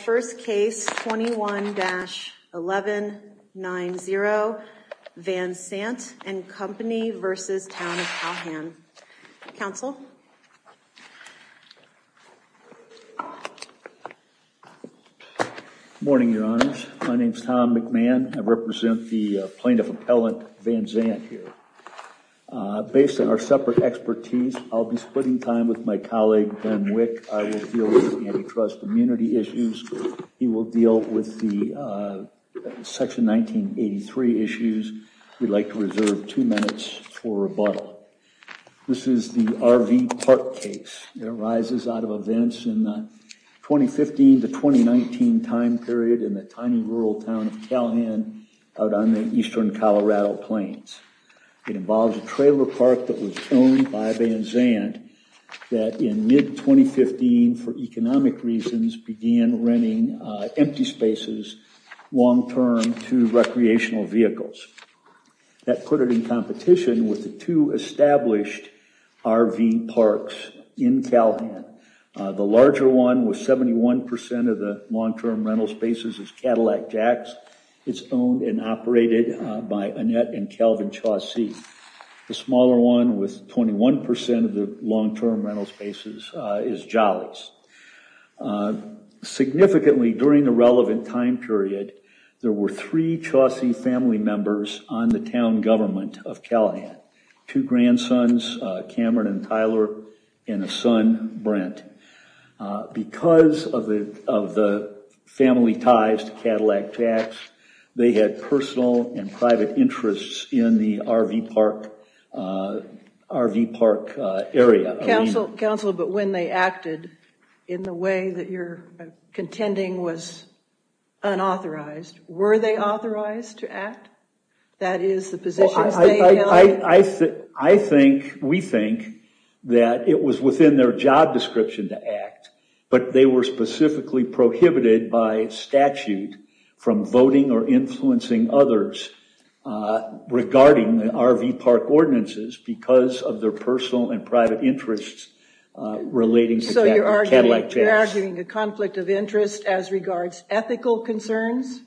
First case, 21-1190, Van Sant & Co. v. Town of Calhan. Counsel? Morning, Your Honors. My name is Tom McMahon. I represent the plaintiff appellant, Van Sant, here. Based on our separate expertise, I'll be splitting time with my colleague, Ben Wick. I will deal with the Section 1983 issues. We'd like to reserve two minutes for rebuttal. This is the RV Park case. It arises out of events in the 2015-2019 time period in the tiny rural town of Calhan out on the eastern Colorado plains. It involves a trailer park that was owned by Van Sant that in mid-2015, for economic reasons, began renting empty spaces long-term to recreational vehicles. That put it in competition with the two established RV parks in Calhan. The larger one with 71% of the long-term rental spaces is Cadillac Jacks. It's owned and operated by Annette and Calvin Chaucey. The smaller one with 21% of the long-term rental spaces is Jolly's. Significantly, during the relevant time period, there were three Chaucey family members on the town government of Calhan. Two grandsons, Cameron and Tyler, and a son, Brent. Because of the family ties to Cadillac Jacks, they had personal and private interests in the RV Park area. Counsel, but when they acted in the way that you're contending was unauthorized, were they authorized to act? That is the position. I think, we think, that it was within their job description to act, but they were specifically prohibited by statute from voting or influencing others regarding the RV Park ordinances because of their personal and private interests relating to Cadillac Jacks. So you're arguing a conflict of interest as regards ethical concerns?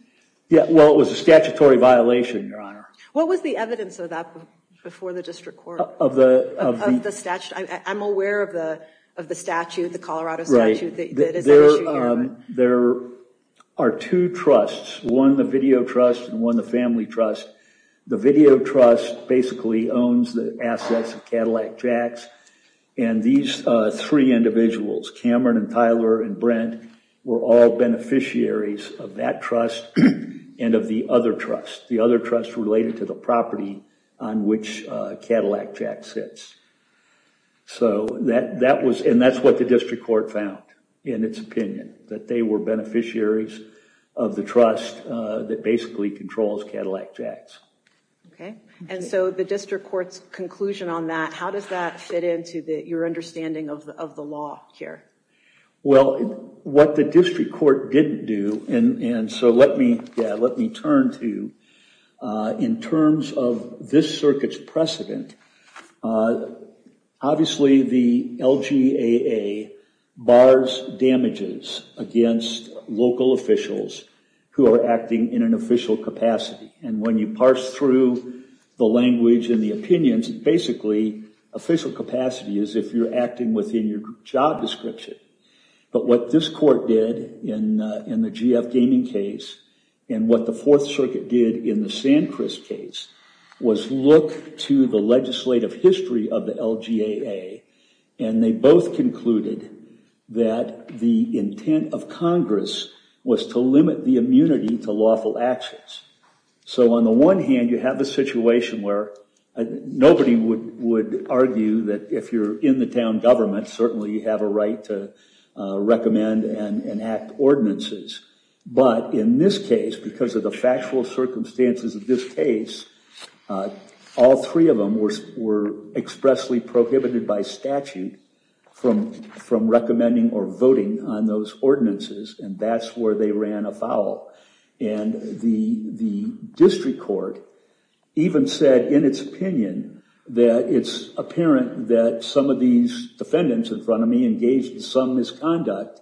Yeah, well, it was a statutory violation, Your Honor. What was the evidence of that before the district court? I'm aware of the statute, the Colorado statute. There are two trusts, one the video trust and one the family trust. The video trust basically owns the assets of Cadillac Jacks and these three individuals, Cameron and Tyler and Brent, were all beneficiaries of that trust and of the other trust. The other trust related to the property on which Cadillac Jacks sits. So that was, and that's what the district court found in its opinion, that they were beneficiaries of the trust that basically controls Cadillac Jacks. Okay, and so the district court's conclusion on that, how does that fit into your understanding of the law here? Well, what the district court didn't do, and so let me, turn to, in terms of this circuit's precedent, obviously the LGAA bars damages against local officials who are acting in an official capacity. And when you parse through the language and the opinions, basically official capacity is if you're acting within your job description. But what this circuit did in the San Chris case was look to the legislative history of the LGAA and they both concluded that the intent of Congress was to limit the immunity to lawful actions. So on the one hand you have a situation where nobody would argue that if you're in the town government certainly you have a right to recommend and enact ordinances. But in this case, because of the factual circumstances of this case, all three of them were expressly prohibited by statute from recommending or voting on those ordinances and that's where they ran afoul. And the district court even said in its opinion that it's apparent that some of these defendants in front of me engaged in some misconduct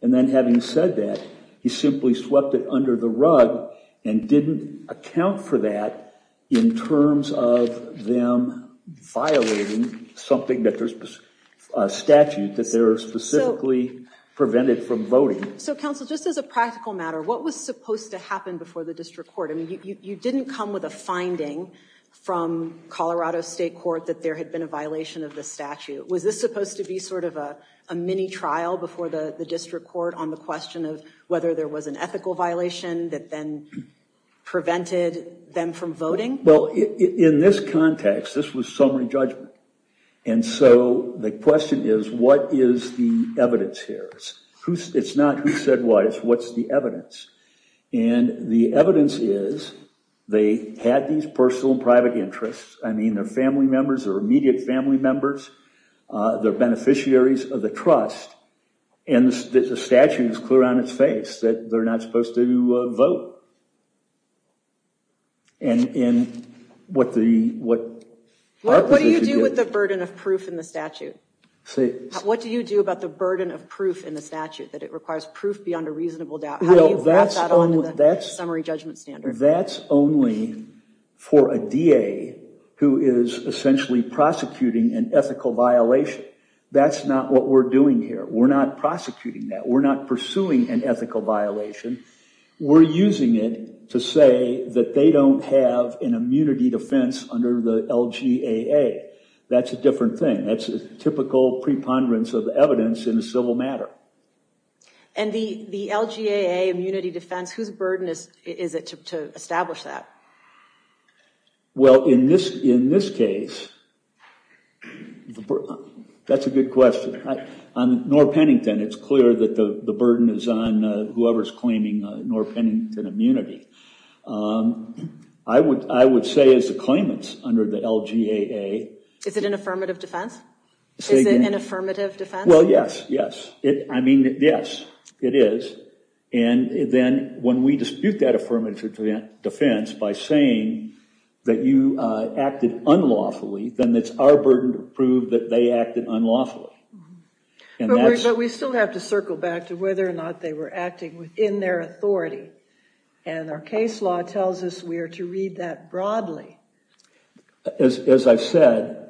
and then having said that he simply swept it under the rug and didn't account for that in terms of them violating something that there's a statute that they're specifically prevented from voting. So counsel, just as a practical matter, what was supposed to happen before the district court? I Colorado State Court that there had been a violation of the statute. Was this supposed to be sort of a mini trial before the district court on the question of whether there was an ethical violation that then prevented them from voting? Well in this context this was summary judgment and so the question is what is the evidence here? It's not who said what, it's what's the interest. I mean they're family members, they're immediate family members, they're beneficiaries of the trust and the statute is clear on its face that they're not supposed to vote. What do you do with the burden of proof in the statute? What do you do about the burden of proof in the statute that it requires proof beyond a who is essentially prosecuting an ethical violation? That's not what we're doing here. We're not prosecuting that. We're not pursuing an ethical violation. We're using it to say that they don't have an immunity defense under the LGAA. That's a different thing. That's a typical preponderance of evidence in a civil matter. And the the LGAA immunity defense, whose burden is in this case, that's a good question. On Norr Pennington it's clear that the the burden is on whoever's claiming Norr Pennington immunity. I would say as a claimant under the LGAA. Is it an affirmative defense? Is it an affirmative defense? Well yes, yes. I mean yes it is and then when we dispute that affirmative defense by saying that you acted unlawfully, then it's our burden to prove that they acted unlawfully. But we still have to circle back to whether or not they were acting within their authority and our case law tells us we are to read that broadly. As I've said,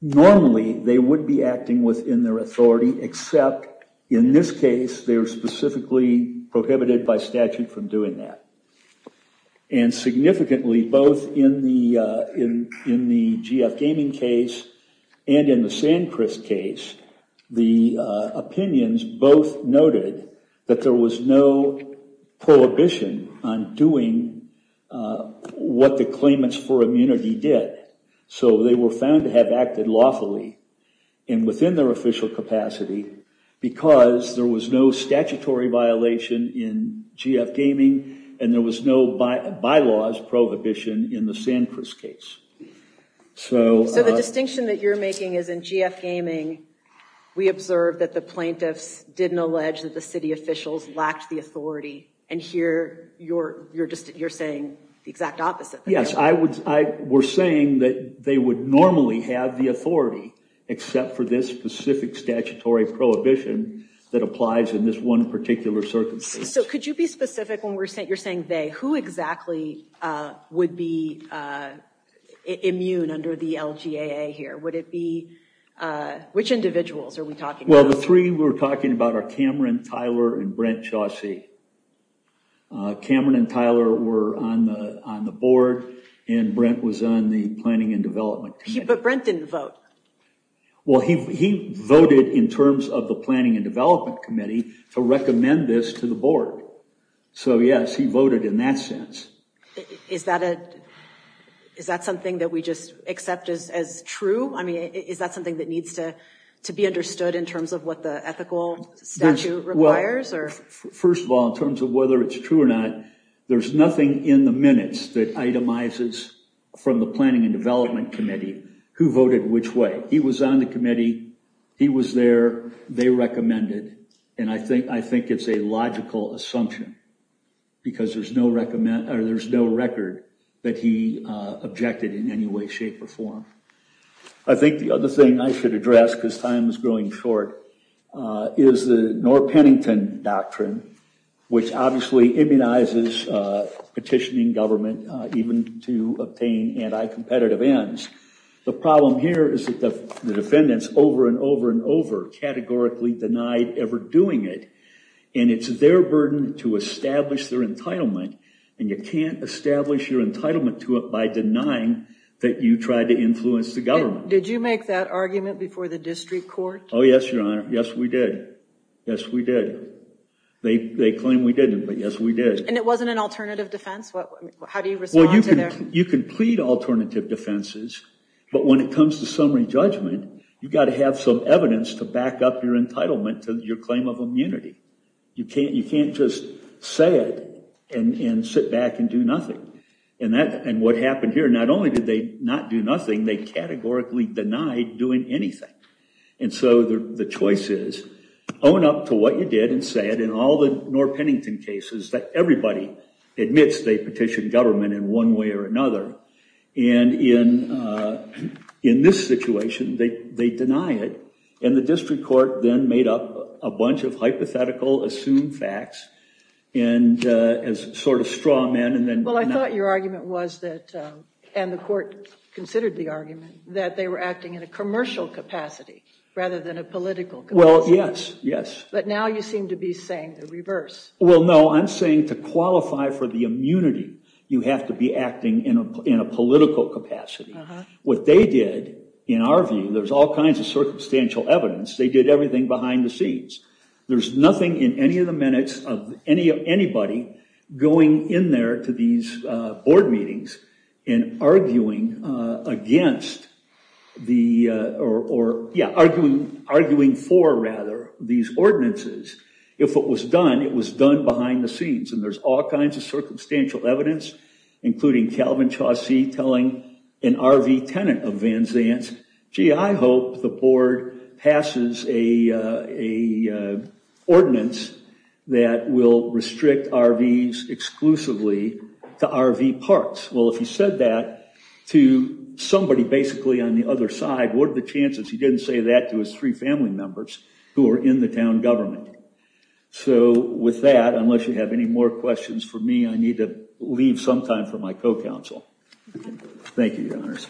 normally they would be acting within their authority except in this case they're specifically prohibited by statute from doing that. And significantly both in the in in the GF Gaming case and in the San Chris case, the opinions both noted that there was no prohibition on doing what the claimants for immunity did. So they were found to have acted lawfully and within their official capacity because there was no statutory violation in GF Gaming and there was no by-laws prohibition in the San Chris case. So the distinction that you're making is in GF Gaming we observed that the plaintiffs didn't allege that the city officials lacked the authority and here you're just you're saying the exact opposite. Yes I would I were saying that they would normally have the authority except for this specific statutory prohibition that applies in this one particular circumstance. So could you be specific when we're saying you're saying they who exactly would be immune under the LGAA here? Would it be which individuals are we talking about? Well the three we're talking about are Cameron Tyler and Brent Chaucey. Cameron and Tyler were on the on the board and Brent was on the planning and development committee. But Brent didn't vote. Well he he voted in terms of the planning and development committee to recommend this to the board. So yes he voted in that sense. Is that a is that something that we just accept as as true? I mean is that something that needs to to be understood in terms of what the ethical statute requires? First of all in terms of whether it's true or not there's nothing in the minutes that itemizes from the planning and development committee who voted which way. He was on the committee. He was there. They recommended and I think I think it's a logical assumption because there's no recommend or there's no record that he objected in any way shape or form. I think the other thing I should address because time is growing short is the Norr-Pennington doctrine which obviously immunizes petitioning government even to obtain anti-competitive ends. The problem here is that the defendants over and over and over categorically denied ever doing it and it's their burden to establish their entitlement and you can't establish your entitlement to it by denying that you tried to influence the government. Did you make that argument before the district court? Oh yes your honor. Yes we did. Yes we did. They they claim we didn't but yes we did. And it wasn't an alternative defense? What how do you respond to that? You can plead alternative defenses but when it comes to summary judgment you've got to have some evidence to back up your entitlement to your claim of immunity. You can't you can't just say it and and sit back and do nothing and that and what happened here not only did they not do nothing they categorically denied doing anything and so the the choice is own up to what you did and say it in all the Norr-Pennington cases that everybody admits they petitioned government in one way or another and in uh in this situation they they deny it and the district court then made up a bunch of hypothetical assumed facts and uh as sort of straw men and then. Well I thought your argument was that um and the court considered the argument that they were acting in a commercial capacity rather than a political capacity. Well yes yes. But now you seem to be saying the reverse. Well no I'm saying to qualify for the immunity you have to be acting in a in a political capacity. What they did in our view there's all kinds of circumstantial evidence they did everything behind the scenes. There's nothing in any of the minutes of any of anybody going in there to these uh board meetings and arguing uh against the uh or yeah arguing arguing for rather these ordinances. If it was done it was done behind the scenes and there's all kinds of circumstantial evidence including Calvin Chaucey telling an RV tenant of Van Zandt's gee I hope the board passes a uh a ordinance that will restrict RVs exclusively to RV parks. Well if he said that to somebody basically on the other side what are the chances he didn't say that to his three family members who are in the town government. So with that unless you have any more questions for me I need to leave some time for my co-counsel. Thank you your honors.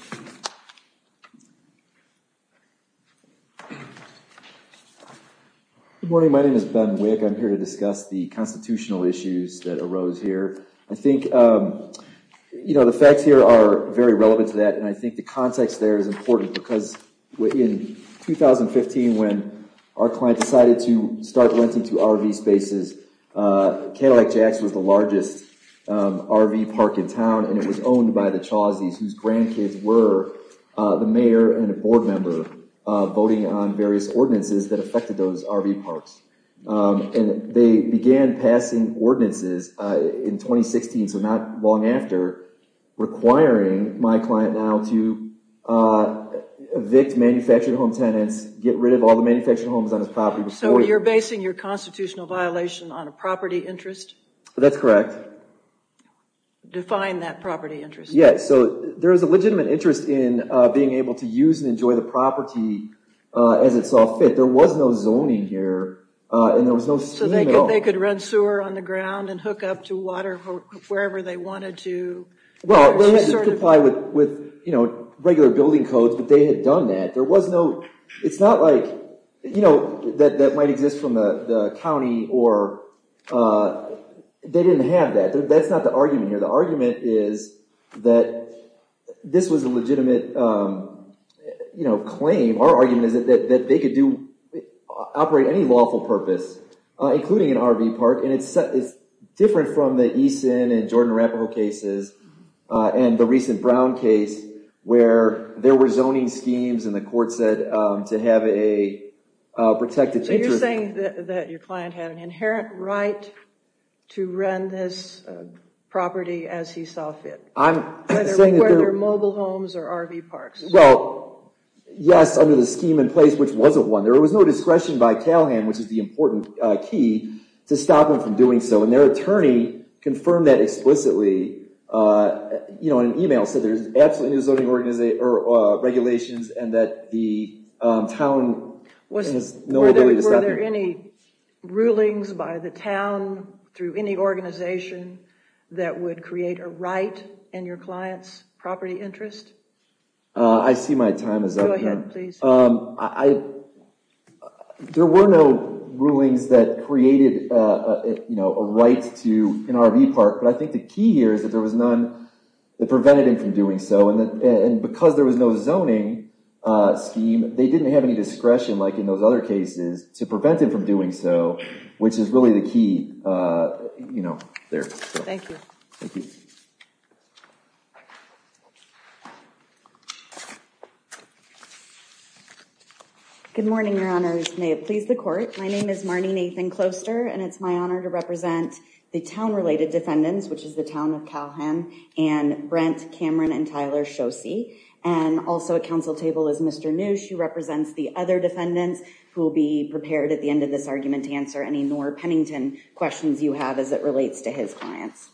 Good morning my name is Ben Wick. I'm here to discuss the constitutional issues that arose here. I think um you know the facts here are very relevant to that and I think the context there is important because in 2015 when our client decided to start renting to RV spaces uh Cadillac Axe was the largest um RV park in town and it was owned by the Chauceys whose grandkids were uh the mayor and a board member uh voting on various ordinances that affected those RV parks. And they began passing ordinances uh in 2016 so not long after requiring my client now to uh evict manufactured home tenants, get rid of all the manufactured homes on his property. So you're basing your constitutional violation on a property interest? That's correct. Define that property interest. Yes so there is a legitimate interest in uh being able to use and enjoy the property uh as it saw fit. There was no zoning here uh and there was no... So they could rent sewer on the ground and hook up to water wherever they wanted to? Well they had to comply with with you know regular building codes but they had done that. There was no it's not like you know that that might exist from the the county or uh they didn't have that. That's not the argument here. The argument is that this was a legitimate um you know claim. Our argument is that that they could do operate any lawful purpose uh including an RV park and it's it's different from the Eason and Jordan Arapaho cases uh and the recent Brown case where there were zoning schemes and the court said um to have a uh protected interest. So you're saying that that your client had an inherent right to rent this property as he saw fit? I'm saying whether mobile homes or RV parks. Well yes under the scheme in place which wasn't one. There was no discretion by CalHan which is the important uh key to stop them from doing so and their attorney confirmed that explicitly uh you know an email said there's absolutely no zoning organization or uh regulations and that the um town has no ability to stop. Were there any rulings by the town through any organization that would create a right in your client's property interest? I see my time is up. Go ahead please. Um I there were no rulings that created uh you know a right to an RV park but I think the key here is that there was none that prevented him from doing so and that and because there was no zoning uh scheme they didn't have any discretion like in those other cases to prevent him from doing so which is really the key uh you know there. Thank you. Good morning your honors may it please the court. My name is Marnie Nathan Closter and it's my honor to represent the town of CalHan and Brent Cameron and Tyler Shosey and also at council table is Mr. New. She represents the other defendants who will be prepared at the end of this argument to answer any Noor Pennington questions you have as it relates to his clients.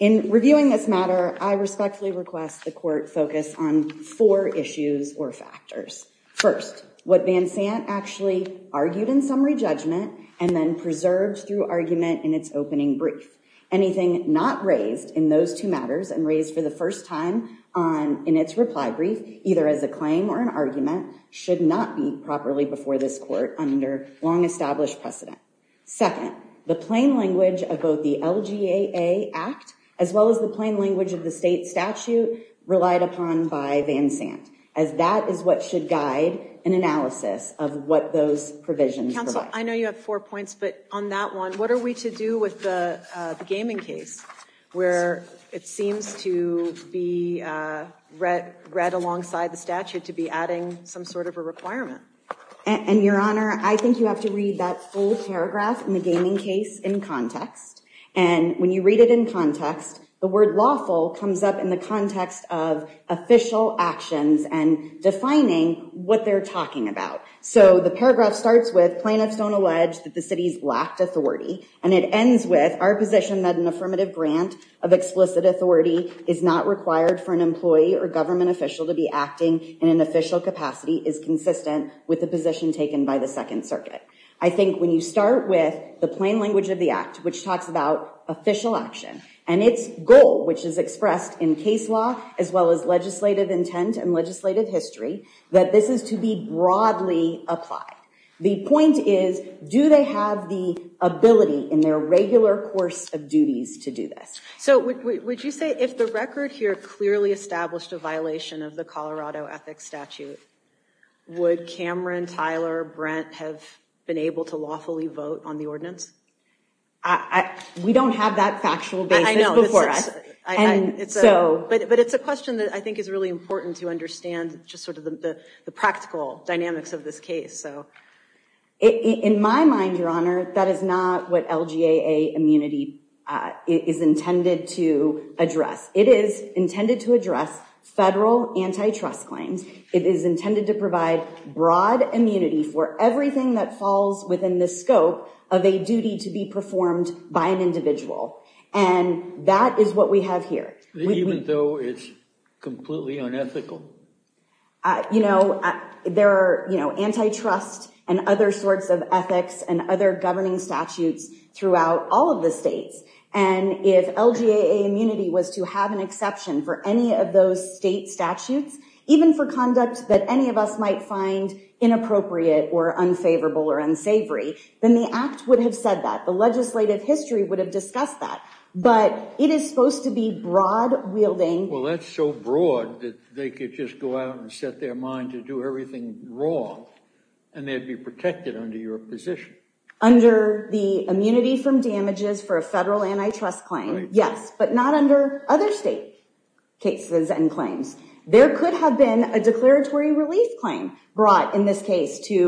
In reviewing this matter I respectfully request the court focus on four issues or factors. First what Van Sant actually argued in summary judgment and then preserved through argument in its opening brief. Anything not raised in those two matters and raised for the first time on in its reply brief either as a claim or an argument should not be properly before this court under long established precedent. Second the plain language of both the LGAA act as well as the plain language of the state statute relied upon by Van Sant as that is what should guide an analysis of what those provisions. Counsel I know you have four points but on that one what are we to do with the gaming case where it seems to be uh read alongside the statute to be adding some sort of a requirement? And your honor I think you have to read that full paragraph in the gaming case in context and when you read it in context the word lawful comes up in the context of official actions and defining what they're talking about. So the paragraph starts with plaintiffs don't allege that the city's lacked authority and it ends with our position that an affirmative grant of explicit authority is not required for an employee or government official to be acting in an official capacity is consistent with the position taken by the second circuit. I think when you start with the plain language of the act which talks about official action and its goal which is expressed in case law as well as legislative intent and legislative history that this is to be broadly applied. The point is do they have the ability in their regular course of duties to do this? So would you say if the record here clearly established a violation of the Colorado ethics statute would Cameron, Tyler, Brent have been able to lawfully vote on the But it's a question that I think is really important to understand just sort of the practical dynamics of this case. So in my mind your honor that is not what LGAA immunity is intended to address. It is intended to address federal antitrust claims. It is intended to provide broad immunity for everything that falls within the scope of a duty to be performed by an individual and that is what we have here. Even though it's completely unethical? You know there are you know antitrust and other sorts of ethics and other governing statutes throughout all of the states and if LGAA immunity was to have an exception for any of those state statutes even for conduct that any of us might find inappropriate or unfavorable or unsavory then the act would have said that. The legislative history would have discussed that but it is supposed to be broad wielding. Well that's so broad that they could just go out and set their mind to do everything raw and they'd be protected under your position. Under the immunity from damages for a federal antitrust claim yes but not under other state cases and claims. There could have been a declaratory relief claim brought in this case to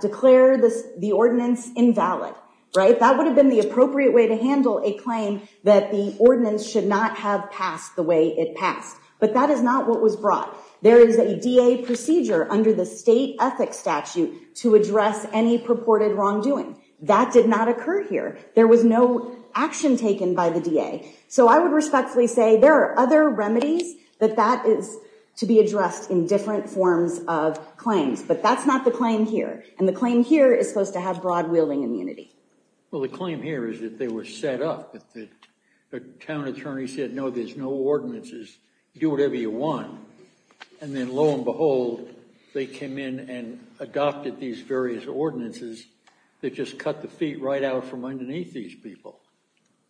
declare the ordinance invalid right? That would have been the appropriate way to handle a claim that the ordinance should not have passed the way it passed but that is not what was brought. There is a DA procedure under the state ethics statute to address any purported wrongdoing. That did not occur here. There was no action taken by the DA so I would respectfully say there are other remedies that that is to be addressed in different forms of claims but that's not the claim here and the claim here is supposed to have broad wielding immunity. Well the claim here is that they were set up that the town attorney said no there's no ordinances do whatever you want and then lo and behold they came in and adopted these various ordinances that just cut the feet right out from underneath these people.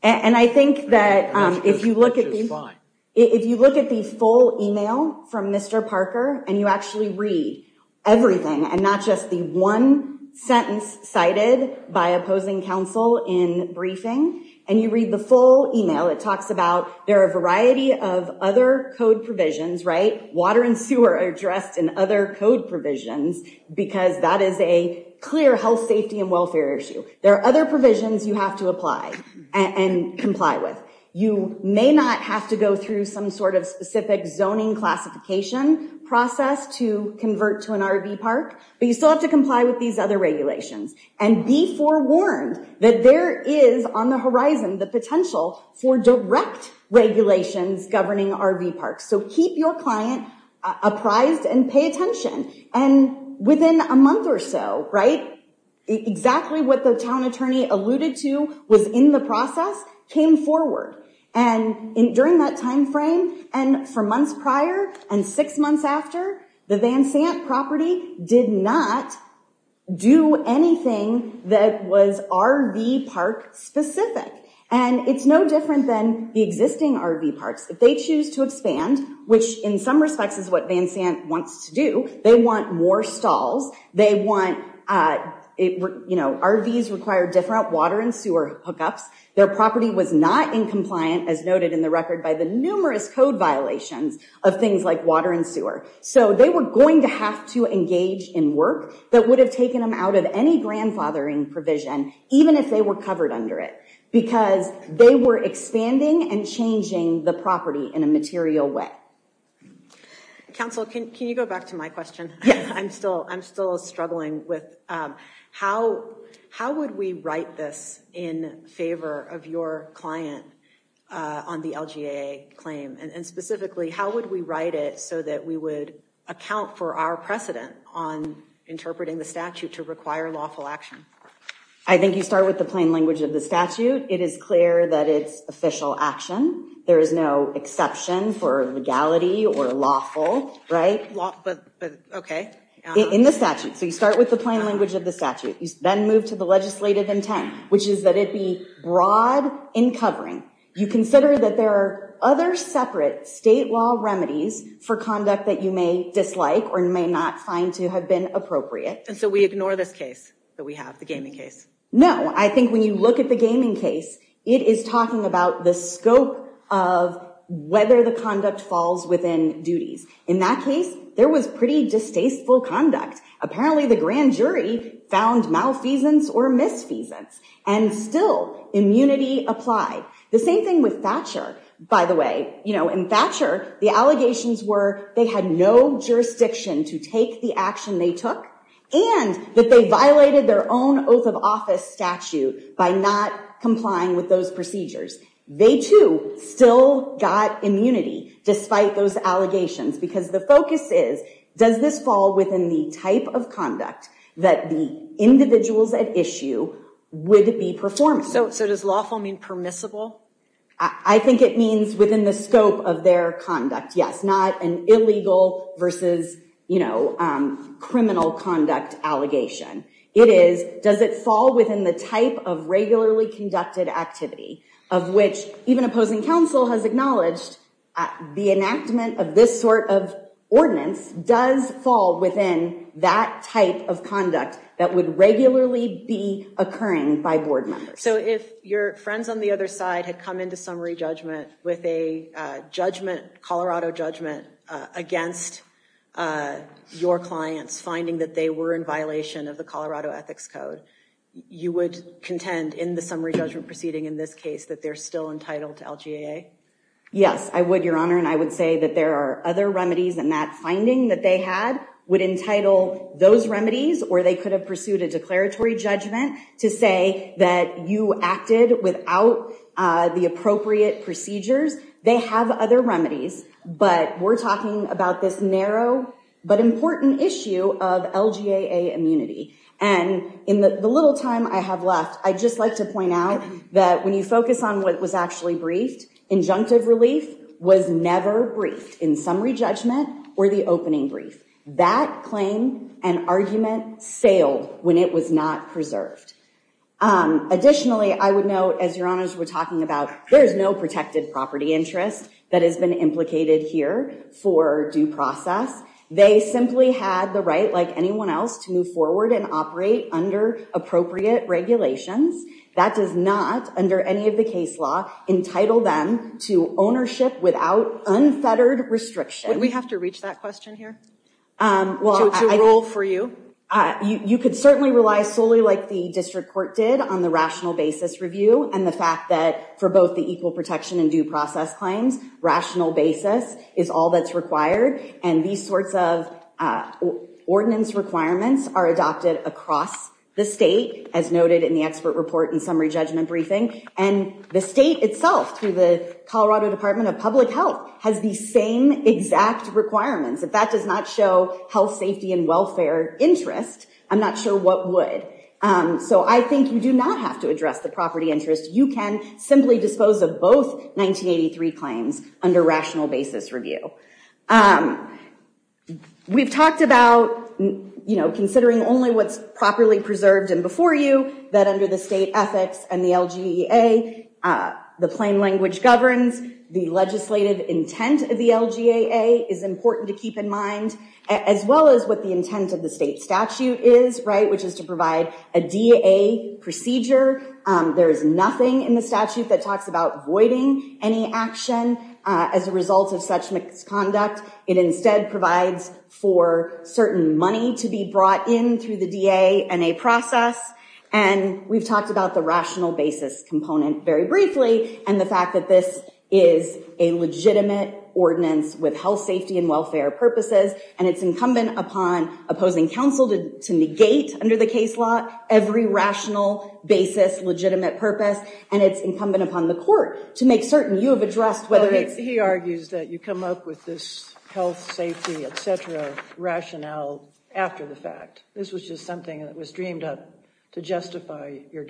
And I think that if you look at the if you look at the full email from Mr. Parker and you actually read everything and not just the one sentence cited by opposing counsel in briefing and you read the full email it talks about there are a variety of other code provisions right water and sewer are addressed in other code provisions because that is a clear health safety and welfare issue. There are other provisions you have to apply and comply with. You may not have to go through some sort of specific zoning classification process to convert to an RV park but you still have to comply with these other regulations and be forewarned that there is on the horizon the potential for direct regulations governing RV parks. So keep your client apprised and pay attention and within a month or so right exactly what the town attorney alluded to was in the process came forward and in during that time frame and for months prior and six months after the Van Sant property did not do anything that was RV park specific and it's no different than the existing RV parks. If they choose to RVs require different water and sewer hookups. Their property was not in compliant as noted in the record by the numerous code violations of things like water and sewer. So they were going to have to engage in work that would have taken them out of any grandfathering provision even if they were covered under it because they were expanding and changing the property in a material way. Counsel can you go back to my question? I'm still struggling with how would we write this in favor of your client on the LGA claim and specifically how would we write it so that we would account for our precedent on interpreting the statute to require lawful action? I think you start with the plain language of the statute. It is clear that it's official action. There is no exception for legality or lawful. In the statute so you start with the plain language of the statute. You then move to the legislative intent which is that it be broad in covering. You consider that there are other separate state law remedies for conduct that you may dislike or you may not find to have been appropriate. And so we ignore this case that we have the gaming case? No I think when you look at the gaming case it is talking about the scope of whether the conduct falls within duties. In that case there was pretty distasteful conduct. Apparently the grand jury found malfeasance or misfeasance and still immunity applied. The same thing with Thatcher by the way. You know in Thatcher the allegations were they had no jurisdiction to take the action they took and that they violated their own oath of office statute by not complying with those procedures. They too still got immunity despite those allegations because the focus is does this fall within the type of conduct that the individuals at issue would be performing. So does lawful mean permissible? I think it means within the scope of their conduct yes not an illegal versus you know criminal conduct allegation. It is does it fall within the type of regularly conducted activity of which even opposing counsel has acknowledged the enactment of this sort of ordinance does fall within that type of conduct that would regularly be occurring by board members. So if your friends on the other side had come into summary judgment with a judgment Colorado judgment against your clients finding that they were in violation of the Colorado ethics code you would contend in the summary judgment proceeding in this case that they're still entitled to LGAA? Yes I would your honor and I would say that there are other remedies and that finding that they had would entitle those remedies or they could have pursued a declaratory judgment to say that you acted without the appropriate procedures. They have other remedies but we're talking about this narrow but important issue of LGAA immunity and in the little time I have left I'd just like to point out that when you focus on what was actually briefed injunctive relief was never briefed in summary judgment or the opening brief. That claim and argument sailed when it was not preserved. Additionally I would note as your honors were talking about there's no protected property interest that has been implicated here for due process. They simply had the right like anyone else to move forward and operate under appropriate regulations. That does not under any of the case law entitle them to ownership without unfettered restriction. Would certainly rely solely like the district court did on the rational basis review and the fact that for both the equal protection and due process claims rational basis is all that's required and these sorts of ordinance requirements are adopted across the state as noted in the expert report and summary judgment briefing and the state itself through the Colorado Department of Public Health has the same exact requirements. If that does not show health safety and welfare interest I'm not sure what would. So I think you do not have to address the property interest you can simply dispose of both 1983 claims under rational basis review. We've talked about you know considering only what's properly preserved and before you that under the state ethics and the LGEA the plain language governs the legislative intent of the LGAA is important to keep in mind as well as what the intent of the state statute is right which is to provide a DA procedure. There is nothing in the statute that talks about voiding any action as a result of such misconduct. It instead provides for certain money to be brought in through the DA and a process and we've talked about the rational basis component very briefly and the fact that this is a legitimate ordinance with health safety and welfare purposes and it's incumbent upon opposing counsel to negate under the case law every rational basis legitimate purpose and it's incumbent upon the court to make certain you have addressed whether it's. He argues that you come up with this health safety etc rationale after the fact. This was just something that was dreamed up to justify your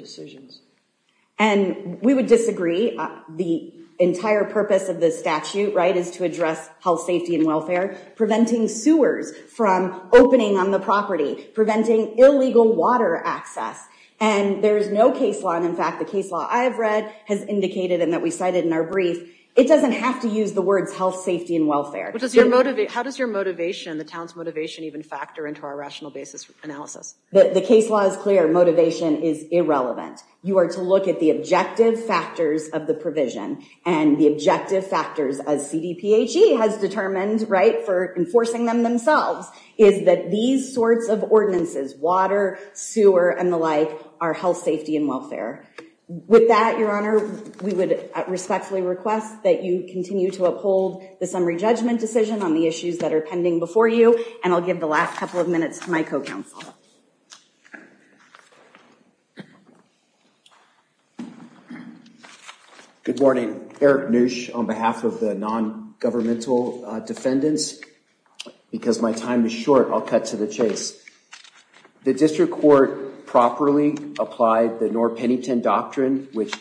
health safety and welfare preventing sewers from opening on the property preventing illegal water access and there's no case law and in fact the case law I have read has indicated and that we cited in our brief it doesn't have to use the words health safety and welfare. How does your motivation the town's motivation even factor into our rational basis analysis? The case law is clear motivation is irrelevant. You are to look at the objective factors of the provision and the determined right for enforcing them themselves is that these sorts of ordinances water sewer and the like are health safety and welfare. With that your honor we would respectfully request that you continue to uphold the summary judgment decision on the issues that are pending before you and I'll give the last couple of minutes to my co-counsel. Good morning. Eric Neusch on behalf of the non-governmental defendants because my time is short I'll cut to the chase. The district court properly applied the Norr-Pennington doctrine which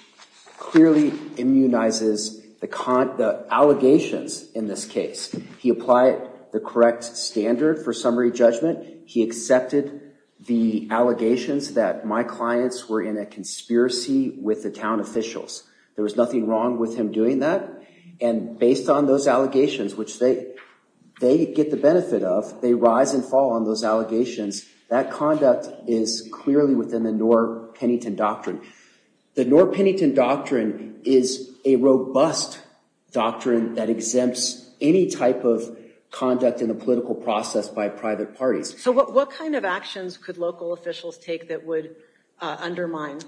clearly immunizes the allegations in this case. He applied the correct standard for summary judgment. He accepted the allegations that my clients were in a conspiracy with the town officials. There was nothing wrong with him doing that and based on those allegations which they they get the benefit of they rise and fall on those allegations. That conduct is clearly within the Norr-Pennington doctrine. The Norr-Pennington doctrine is a robust doctrine that exempts any type of conduct in the political process by private parties. So what kind of actions could local officials take that would undermine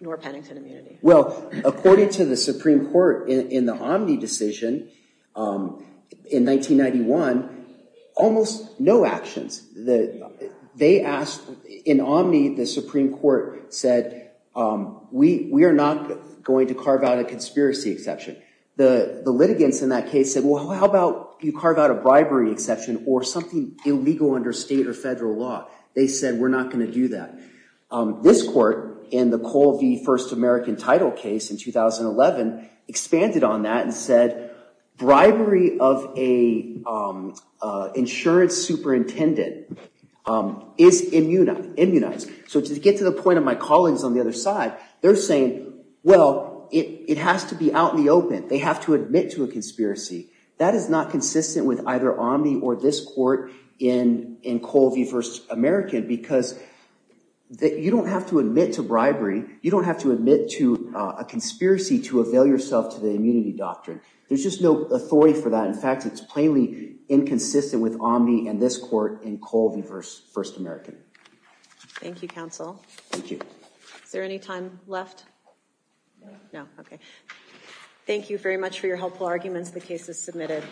Norr-Pennington immunity? Well according to the Supreme Court in the Omni decision in 1991 almost no actions. They asked in Omni the Supreme Court said we are not going to carve out a conspiracy exception. The litigants in that case said well how about you carve out a bribery exception or something illegal under state or federal law. They said we're not going to do that. This court in the Cole v. First American title case in 2011 expanded on that and said bribery of a insurance superintendent is immunized. So to get to the point of my colleagues on the other side they're saying well it it has to be out in the open. They have to admit to a conspiracy. That is not consistent with either Omni or this court in in Cole v. First American because you don't have to admit to bribery. You don't have to admit to a conspiracy to avail yourself to the immunity doctrine. There's just no authority for that. In fact it's plainly inconsistent with Omni and this court in Cole v. First American. Thank you counsel. Thank you. Is there any time left? No. Okay. Thank you very much for your helpful arguments. The case is submitted.